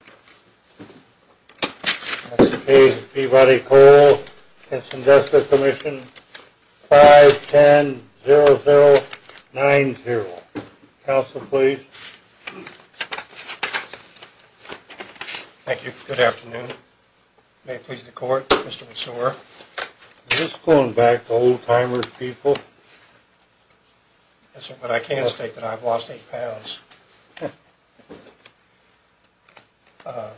That's the case of Peabody Coal, Constitutional Commission, 510090. Counsel, please. Thank you. Good afternoon. May it please the Court, Mr. McSewar. Is this going back to old-timers' people? Yes, sir, but I can state that I've lost eight pounds. Mr.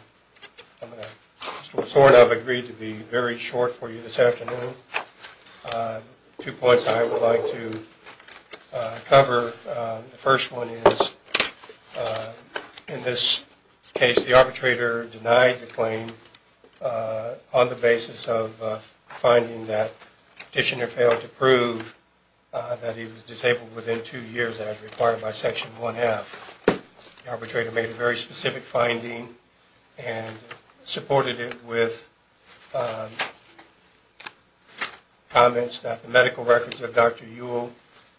McSewar and I have agreed to be very short for you this afternoon. Two points I would like to cover. The first one is, in this case, the arbitrator denied the claim on the basis of finding that the petitioner failed to prove that he was disabled within two years as required by Section 1F. The arbitrator made a very specific finding and supported it with comments that the medical records of Dr. Ewell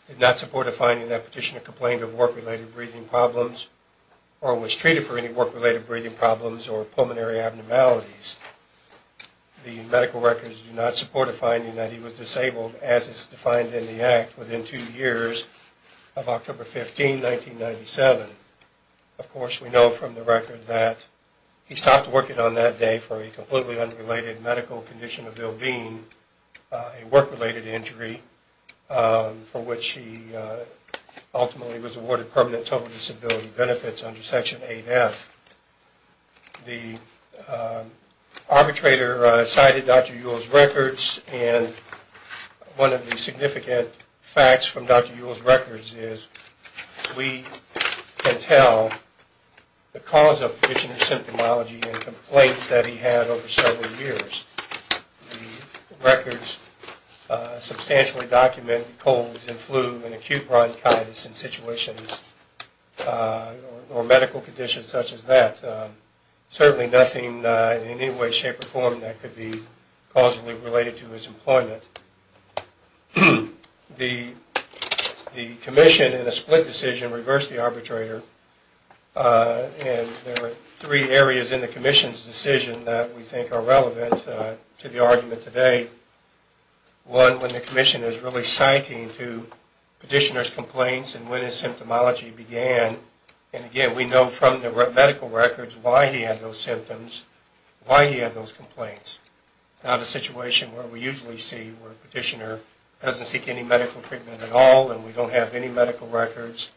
did not support a finding that petitioner complained of work-related breathing problems or was treated for any work-related breathing problems or pulmonary abnormalities. The medical records do not support a finding that he was disabled as is defined in the Act within two years of October 15, 1997. Of course, we know from the record that he stopped working on that day for a completely unrelated medical condition of ill-being, a work-related injury for which he ultimately was awarded permanent total disability benefits under Section 8F. The arbitrator cited Dr. Ewell's records and one of the significant facts from Dr. Ewell's records is we can tell the cause of petitioner's symptomology and complaints that he had over several years. The records substantially document colds and flu and acute bronchitis in situations or medical conditions such as that. Certainly nothing in any way, shape, or form that could be causally related to his employment. The commission in a split decision reversed the arbitrator and there were three areas in the commission's decision that we think are relevant to the argument today. One, when the commission is really citing to petitioner's complaints and when his symptomology began. And again, we know from the medical records why he had those symptoms, why he had those complaints. It's not a situation where we usually see where petitioner doesn't seek any medical treatment at all and we don't have any medical records.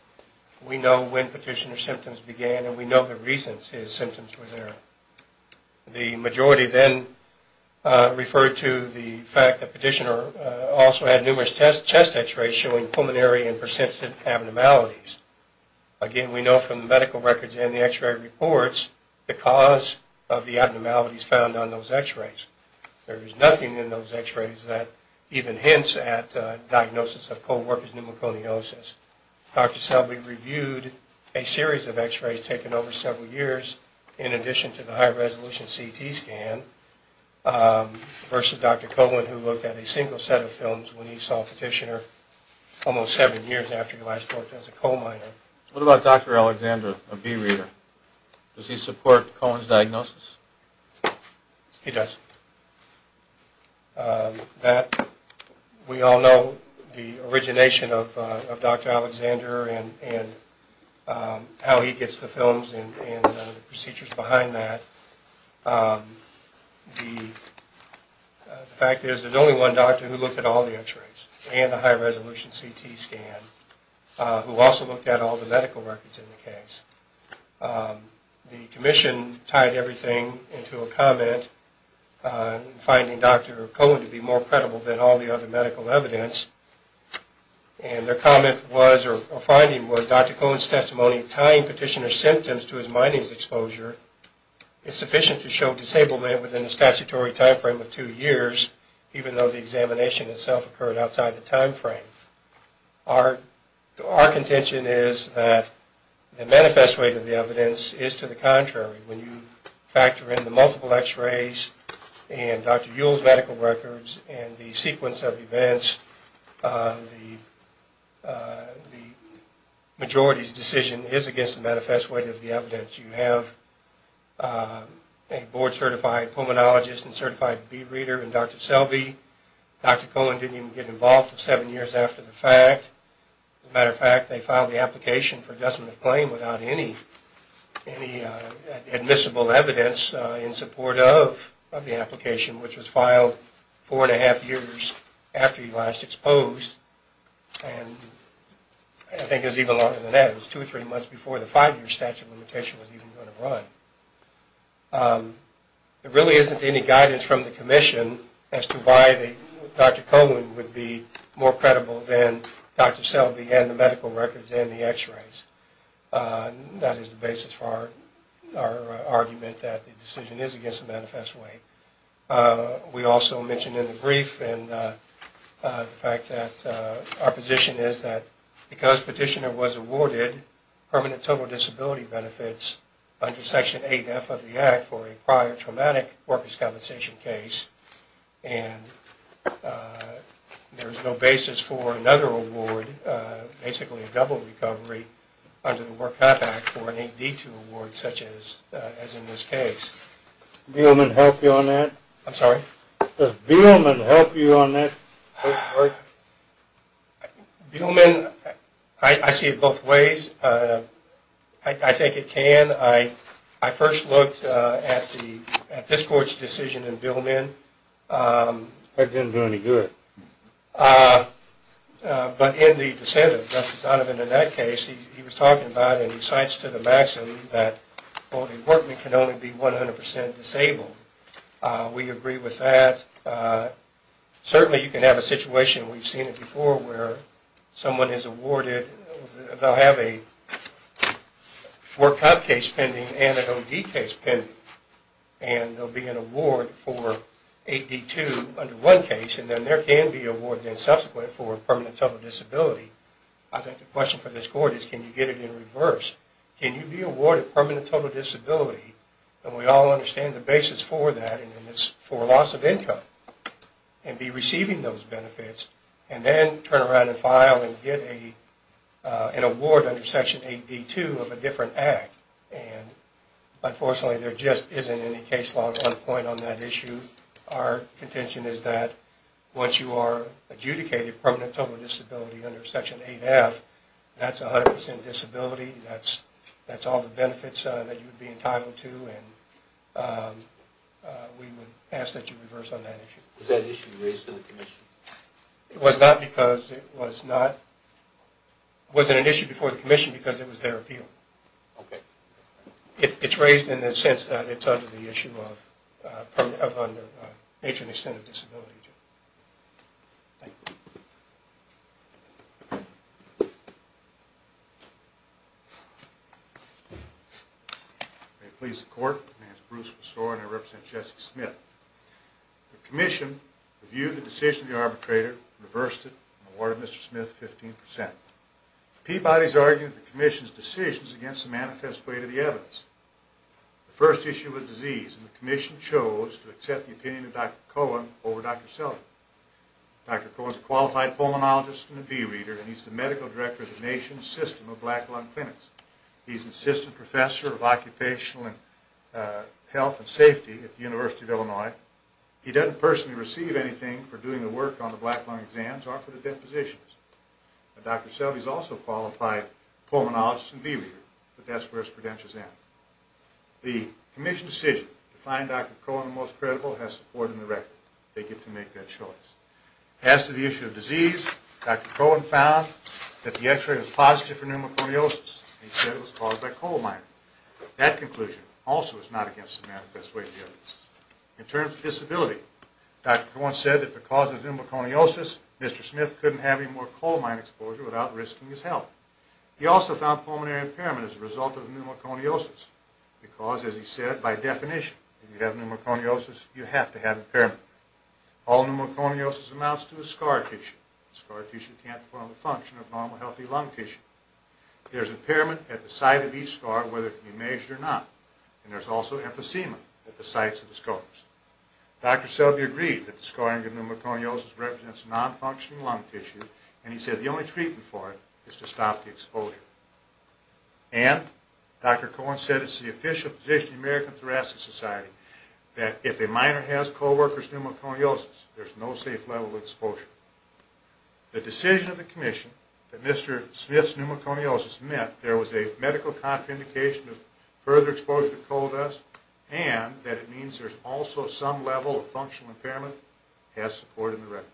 We know when petitioner's symptoms began and we know the reasons his symptoms were there. The majority then referred to the fact that petitioner also had numerous test x-rays showing pulmonary and persistent abnormalities. Again, we know from the medical records and the x-ray reports the cause of the abnormalities found on those x-rays. There is nothing in those x-rays that even hints at diagnosis of cold workers' pneumoconiosis. Dr. Selby reviewed a series of x-rays taken over several years in addition to the high-resolution CT scan versus Dr. Coleman who looked at a single set of films when he saw petitioner almost seven years after he last worked as a coal miner. What about Dr. Alexander, a bee reader? Does he support Cohen's diagnosis? He does. We all know the origination of Dr. Alexander and how he gets the films and the procedures behind that. The fact is there's only one doctor who looked at all the x-rays and the high-resolution CT scan who also looked at all the medical records in the case. The commission tied everything into a comment finding Dr. Cohen to be more credible than all the other medical evidence. And their comment was or finding was Dr. Cohen's testimony tying petitioner's symptoms to his mining exposure is sufficient to show disablement within a statutory time frame of two years even though the examination itself occurred outside the time frame. Our contention is that the manifest way to the evidence is to the contrary. When you factor in the multiple x-rays and Dr. Yule's medical records and the sequence of events, the majority's decision is against the manifest way to the evidence. You have a board certified pulmonologist and certified bee reader and Dr. Selby. Dr. Cohen didn't even get involved seven years after the fact. As a matter of fact, they filed the application for adjustment of claim without any admissible evidence in support of the application which was filed four and a half years after he last exposed. And I think it was even longer than that. It was two or three months before the five-year statute of limitation was even going to run. There really isn't any guidance from the commission as to why Dr. Cohen would be more credible than Dr. Selby and the medical records and the x-rays. That is the basis for our argument that the decision is against the manifest way. We also mentioned in the brief the fact that our position is that because petitioner was awarded permanent total disability benefits under Section 8F of the Act for a prior traumatic workers' compensation case. And there is no basis for another award, basically a double recovery under the Work Life Act for an 8D2 award such as in this case. Does Beelman help you on that? I'm sorry? Does Beelman help you on that? Beelman, I see it both ways. I think it can. I first looked at this court's decision in Beelman. That didn't do any good. But in the dissent of Justice Donovan in that case, he was talking about and he cites to the maximum that only a workman can only be 100% disabled. We agree with that. Certainly you can have a situation, we've seen it before, where someone is awarded, they'll have a work cop case pending and an OD case pending. And there will be an award for 8D2 under one case and then there can be an award then subsequently for permanent total disability. I think the question for this court is can you get it in reverse? Can you be awarded permanent total disability? And we all understand the basis for that and it's for loss of income. And be receiving those benefits and then turn around and file and get an award under Section 8D2 of a different act. And unfortunately there just isn't any case law on point on that issue. Our contention is that once you are adjudicated permanent total disability under Section 8F, that's 100% disability. That's all the benefits that you would be entitled to and we would ask that you reverse on that issue. Was that issue raised to the commission? It was not because it was not, it wasn't an issue before the commission because it was their appeal. Okay. It's raised in the sense that it's under the issue of permanent, under age and extent of disability. Thank you. May it please the court, my name is Bruce Messore and I represent Jesse Smith. The commission reviewed the decision of the arbitrator, reversed it and awarded Mr. Smith 15%. The Peabody's arguing that the commission's decision is against the manifest way to the evidence. The first issue was disease and the commission chose to accept the opinion of Dr. Cohen over Dr. Sellard. Dr. Cohen is a qualified pulmonologist and a bee reader and he's the medical director of the nation's system of black lung clinics. He's an assistant professor of occupational health and safety at the University of Illinois. He doesn't personally receive anything for doing the work on the black lung exams or for the depositions. Dr. Sellard is also a qualified pulmonologist and bee reader but that's where his credentials end. The commission's decision to find Dr. Cohen the most credible has support in the record. They get to make that choice. As to the issue of disease, Dr. Cohen found that the x-ray was positive for pneumoconiosis. He said it was caused by coal mining. That conclusion also is not against the manifest way to the evidence. In terms of disability, Dr. Cohen said that because of pneumoconiosis, Mr. Smith couldn't have any more coal mine exposure without risking his health. He also found pulmonary impairment as a result of pneumoconiosis because, as he said, by definition, if you have pneumoconiosis, you have to have impairment. All pneumoconiosis amounts to a scar tissue. A scar tissue can't perform the function of normal healthy lung tissue. There's impairment at the site of each scar whether it can be measured or not. And there's also emphysema at the sites of the scars. Dr. Sellard agreed that the scarring of pneumoconiosis represents non-functioning lung tissue and he said the only treatment for it is to stop the exposure. And Dr. Cohen said it's the official position of the American Thoracic Society that if a miner has co-worker's pneumoconiosis, there's no safe level of exposure. The decision of the commission that Mr. Smith's pneumoconiosis met, there was a medical contraindication of further exposure to coal dust and that it means there's also some level of functional impairment has support in the record.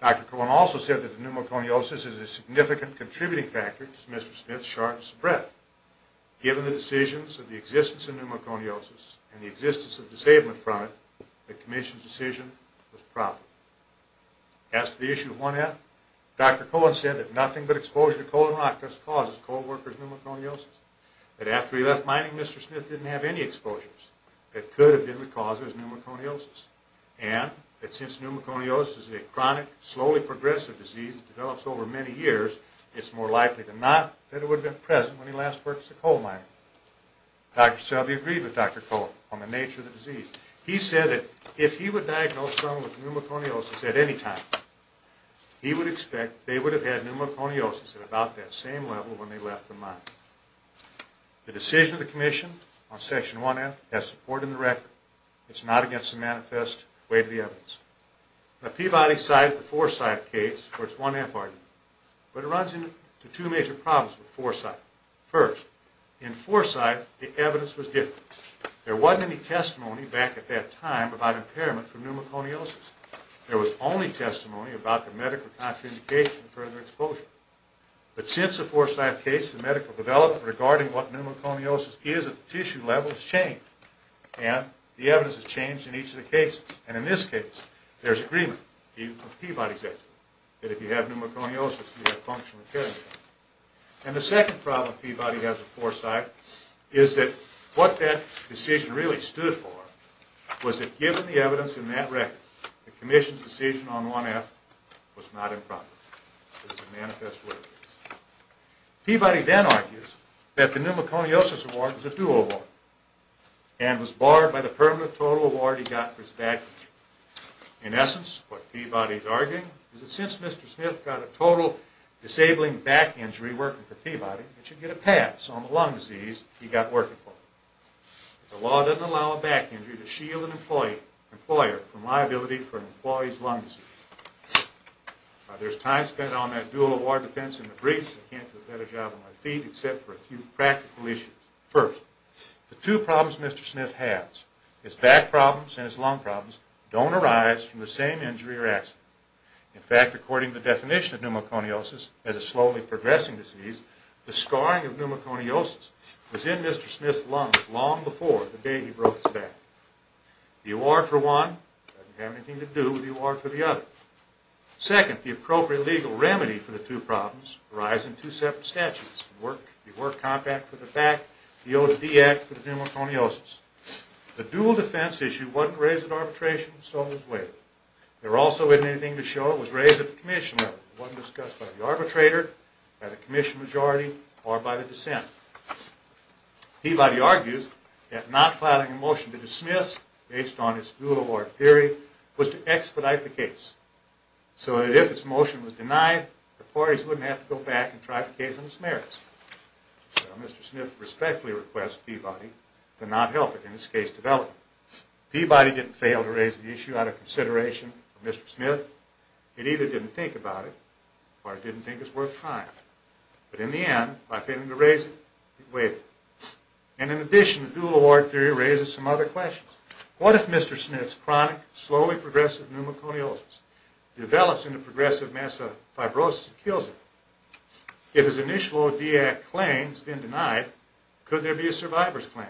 Dr. Cohen also said that pneumoconiosis is a significant contributing factor to Mr. Smith's shortness of breath. Given the decisions of the existence of pneumoconiosis and the existence of disablement from it, the commission's decision was proper. As to the issue of 1F, Dr. Cohen said that nothing but exposure to coal and rock dust causes co-worker's pneumoconiosis. That after he left mining, Mr. Smith didn't have any exposures. That could have been the cause of his pneumoconiosis. And that since pneumoconiosis is a chronic, slowly progressive disease that develops over many years, it's more likely than not that it would have been present when he last worked as a coal miner. Dr. Shelby agreed with Dr. Cohen on the nature of the disease. He said that if he would diagnose someone with pneumoconiosis at any time, he would expect they would have had pneumoconiosis at about that same level when they left the mine. The decision of the commission on Section 1F has support in the record. It's not against the manifest weight of the evidence. Now Peabody cited the Forsyth case for its 1F argument, but it runs into two major problems with Forsyth. First, in Forsyth, the evidence was different. There wasn't any testimony back at that time about impairment from pneumoconiosis. There was only testimony about the medical contraindication of further exposure. But since the Forsyth case, the medical development regarding what pneumoconiosis is at the tissue level has changed, and the evidence has changed in each of the cases. And in this case, there's agreement, Peabody said, that if you have pneumoconiosis, you have functional impairment. And the second problem Peabody has with Forsyth is that what that decision really stood for was that given the evidence in that record, the commission's decision on 1F was not improper. It was a manifest weight case. Peabody then argues that the pneumoconiosis award was a dual award and was barred by the permanent total award he got for his back injury. In essence, what Peabody's arguing is that since Mr. Smith got a total disabling back injury working for Peabody, he should get a pass on the lung disease he got working for him. The law doesn't allow a back injury to shield an employer from liability for an employee's lung disease. There's time spent on that dual award defense in the briefs. I can't do a better job on my feet except for a few practical issues. First, the two problems Mr. Smith has, his back problems and his lung problems, don't arise from the same injury or accident. In fact, according to the definition of pneumoconiosis as a slowly progressing disease, the scarring of pneumoconiosis was in Mr. Smith's lungs long before the day he broke his back. The award for one doesn't have anything to do with the award for the other. Second, the appropriate legal remedy for the two problems arise in two separate statutes, the work contract for the back, the O2D Act for the pneumoconiosis. The dual defense issue wasn't raised at arbitration, so it was waived. There also isn't anything to show it was raised at the commission level. It wasn't discussed by the arbitrator, by the commission majority, or by the dissent. Peabody argues that not filing a motion to dismiss, based on its dual award theory, was to expedite the case so that if its motion was denied, the parties wouldn't have to go back and try the case on its merits. Mr. Smith respectfully requests Peabody to not help it in its case development. Peabody didn't fail to raise the issue out of consideration for Mr. Smith. It either didn't think about it or it didn't think it was worth trying. But in the end, by failing to raise it, it waived it. And in addition, the dual award theory raises some other questions. What if Mr. Smith's chronic, slowly progressive pneumoconiosis develops into progressive mass fibrosis and kills him? If his initial O2D Act claim has been denied, could there be a survivor's claim?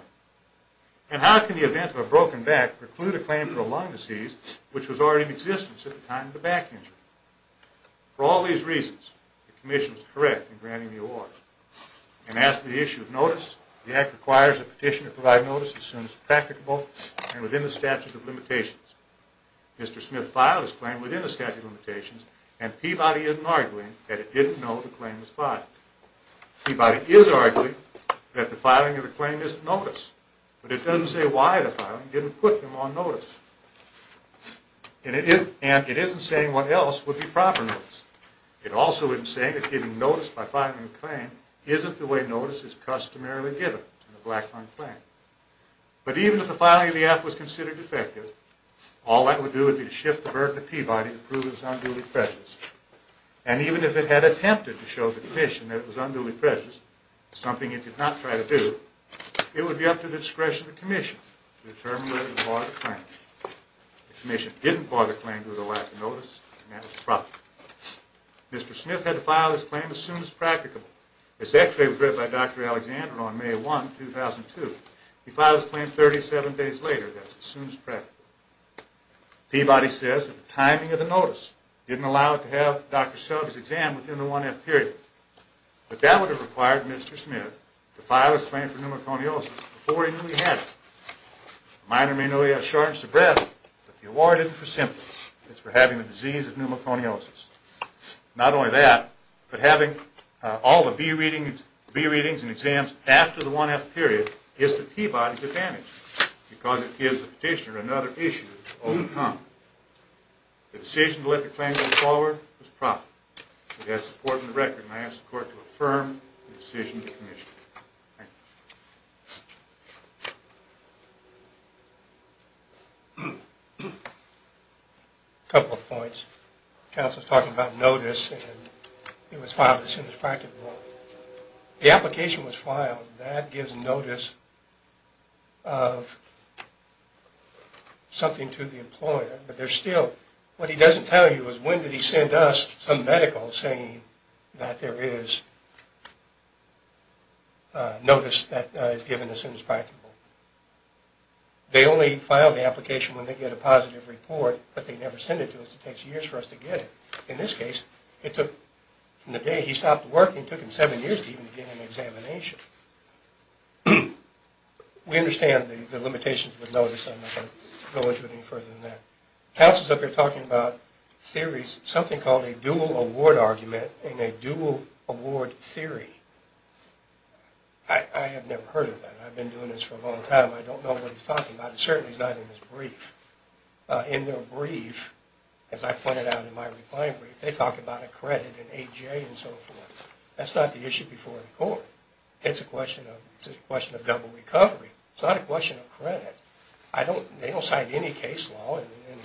And how can the event of a broken back preclude a claim for a lung disease which was already in existence at the time of the back injury? For all these reasons, the Commission is correct in granting the award. And as for the issue of notice, the Act requires a petition to provide notice as soon as practicable and within the statute of limitations. Mr. Smith filed his claim within the statute of limitations, and Peabody isn't arguing that it didn't know the claim was filed. Peabody is arguing that the filing of the claim is a notice, but it doesn't say why the filing didn't put them on notice. And it isn't saying what else would be proper notice. It also isn't saying that getting notice by filing a claim isn't the way notice is customarily given in a black lung claim. But even if the filing of the Act was considered effective, all that would do would be to shift the burden to Peabody to prove it was unduly prejudiced. And even if it had attempted to show the Commission that it was unduly prejudiced, something it did not try to do, it would be up to the discretion of the Commission to determine whether it was part of the claim. The Commission didn't file the claim with a lack of notice, and that was the problem. Mr. Smith had to file his claim as soon as practicable. It's actually regretted by Dr. Alexander on May 1, 2002. He filed his claim 37 days later. That's as soon as practicable. Peabody says that the timing of the notice didn't allow it to have Dr. Selig's exam within the 1F period. But that would have required Mr. Smith to file his claim for pneumoconiosis before he knew he had it. A minor may know he has shortness of breath, but the award isn't for symptoms. It's for having the disease of pneumoconiosis. Not only that, but having all the B readings and exams after the 1F period gives the Peabody advantage because it gives the petitioner another issue to overcome. The decision to let the claim go forward was proper. It has support in the record, and I ask the Court to affirm the decision of the Commission. Thank you. A couple of points. Counsel is talking about notice, and it was filed as soon as practicable. The application was filed, and that gives notice of something to the employer. What he doesn't tell you is when did he send us some medical saying that there is notice that is given as soon as practicable. They only file the application when they get a positive report, but they never send it to us. It takes years for us to get it. In this case, from the day he stopped working, it took him seven years to even get an examination. We understand the limitations with notice. I'm not going to go into it any further than that. Counsel is up here talking about theories, something called a dual award argument and a dual award theory. I have never heard of that. I've been doing this for a long time. I don't know what he's talking about. It certainly is not in his brief. In their brief, as I pointed out in my reply brief, they talk about a credit and A.J. and so forth. That's not the issue before the Court. It's a question of double recovery. It's not a question of credit. They don't cite any case law. In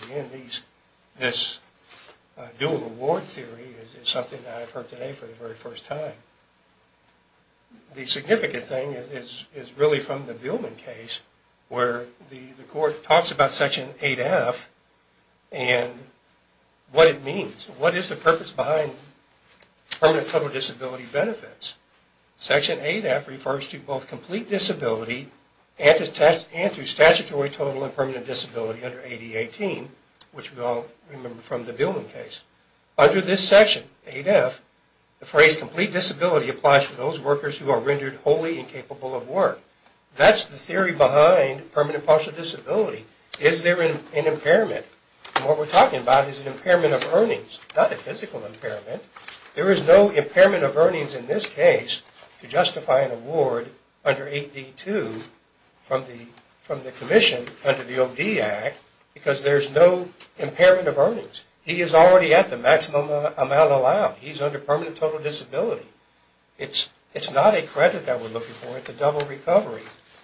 the end, this dual award theory is something that I've heard today for the very first time. The significant thing is really from the Billman case where the Court talks about Section 8F and what it means. What is the purpose behind permanent total disability benefits? Section 8F refers to both complete disability and to statutory total and permanent disability under AD-18, which we all remember from the Billman case. Under this section, 8F, the phrase complete disability applies to those workers who are rendered wholly incapable of work. That's the theory behind permanent partial disability. Is there an impairment? What we're talking about is an impairment of earnings, not a physical impairment. There is no impairment of earnings in this case to justify an award under 8D-2 from the Commission under the OD Act because there's no impairment of earnings. He is already at the maximum amount allowed. He's under permanent total disability. It's not a credit that we're looking for. It's a double recovery.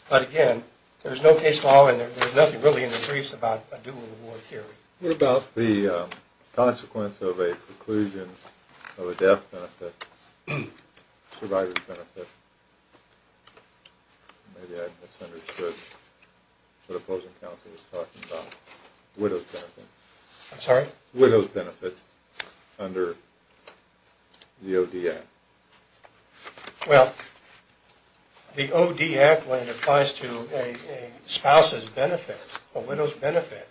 But again, there's no case law and there's nothing really in the briefs about a dual reward theory. What about the consequence of a conclusion of a death benefit, survivor's benefit? Maybe I misunderstood what opposing counsel was talking about. Widow's benefit. I'm sorry? Widow's benefit under the OD Act. Well, the OD Act when it applies to a spouse's benefit, a widow's benefit,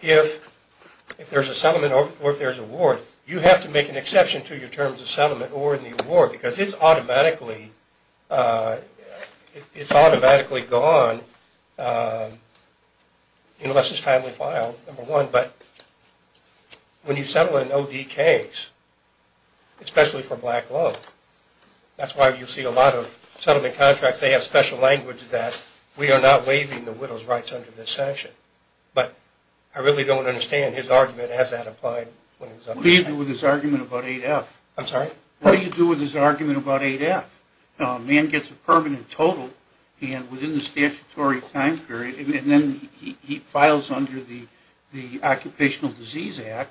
if there's a settlement or if there's a reward, you have to make an exception to your terms of settlement or in the award because it's automatically gone unless it's timely filed, number one. But when you settle in ODKs, especially for black law, that's why you see a lot of settlement contracts. They have special language that we are not waiving the widow's rights under this sanction. But I really don't understand his argument. Has that applied? What do you do with his argument about 8F? I'm sorry? What do you do with his argument about 8F? A man gets a permanent total and within the statutory time period, and then he files under the Occupational Disease Act,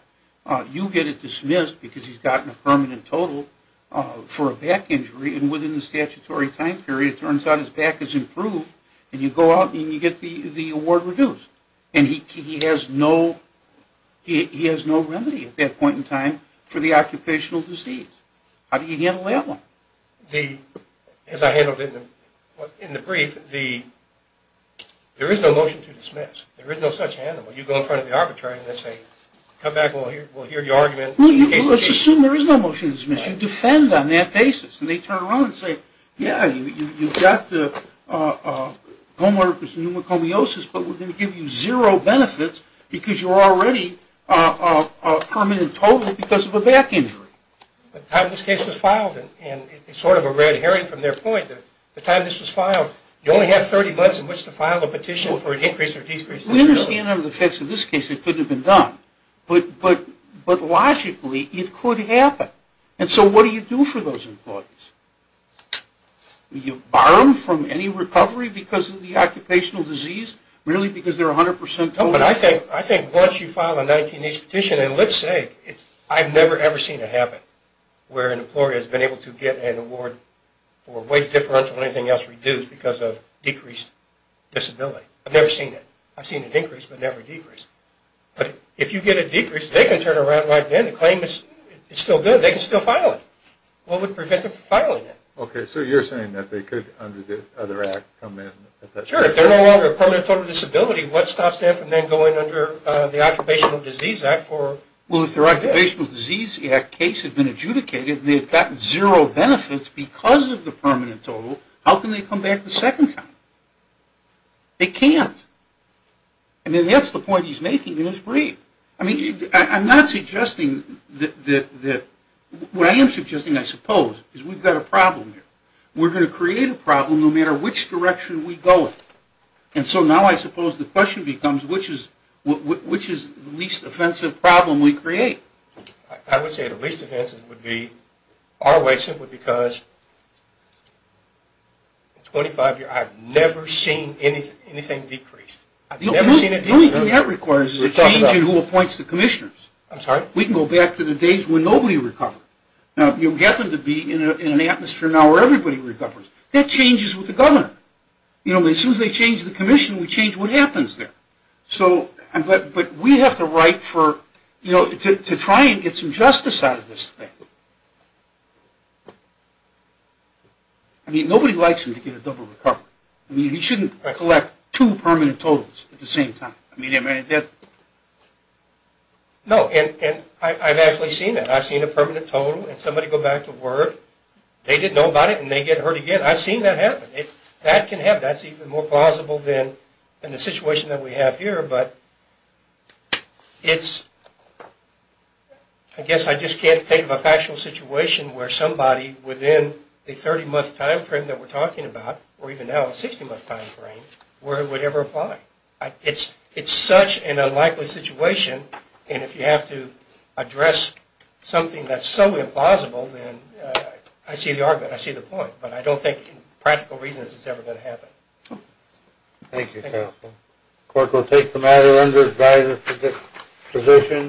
you get it dismissed because he's gotten a permanent total for a back injury, and within the statutory time period it turns out his back has improved, and you go out and you get the award reduced. And he has no remedy at that point in time for the occupational disease. How do you handle that one? As I handled it in the brief, there is no motion to dismiss. There is no such handle. You go in front of the arbitrator and they say, come back and we'll hear your argument. Let's assume there is no motion to dismiss. You defend on that basis, and they turn around and say, yeah, you've got the homeowner with pneumocomiosis, but we're going to give you zero benefits because you're already a permanent total because of a back injury. The time this case was filed, and it's sort of a red herring from their point, the time this was filed, you only have 30 months in which to file a petition for an increase or decrease. We understand under the effects of this case it could have been done, but logically it could happen. And so what do you do for those employees? Do you borrow them from any recovery because of the occupational disease, merely because they're 100% total? I think once you file a 19-H petition, and let's say I've never, ever seen it happen, where an employer has been able to get an award for waste differential and anything else reduced because of decreased disability. I've never seen it. I've seen it increase but never decrease. But if you get a decrease, they can turn around right then and claim it's still good, they can still file it. What would prevent them from filing it? Okay, so you're saying that they could, under the other act, come in? Sure, if they're no longer a permanent total disability, what stops them from then going under the Occupational Disease Act? Well, if their Occupational Disease Act case had been adjudicated and they had gotten zero benefits because of the permanent total, how can they come back the second time? They can't. I mean, that's the point he's making in his brief. I mean, I'm not suggesting that the – what I am suggesting, I suppose, is we've got a problem here. We're going to create a problem no matter which direction we go in. And so now I suppose the question becomes, which is the least offensive problem we create? I would say the least offensive would be our way simply because in 25 years, I've never seen anything decrease. The only thing that requires is a change in who appoints the commissioners. I'm sorry? We can go back to the days when nobody recovered. Now, you'll get them to be in an atmosphere now where everybody recovers. That changes with the governor. As soon as they change the commission, we change what happens there. But we have the right to try and get some justice out of this thing. I mean, nobody likes him to get a double recovery. I mean, he shouldn't collect two permanent totals at the same time. No, and I've actually seen that. I've seen a permanent total and somebody go back to work. They didn't know about it and they get hurt again. I've seen that happen. That can happen. That's even more plausible than the situation that we have here. But I guess I just can't think of a factual situation where somebody within a 30-month time frame that we're talking about, or even now a 60-month time frame, where it would ever apply. It's such an unlikely situation. And if you have to address something that's so implausible, then I see the argument, I see the point. But I don't think, for practical reasons, it's ever going to happen. Thank you, counsel. The court will take the matter under advisory position.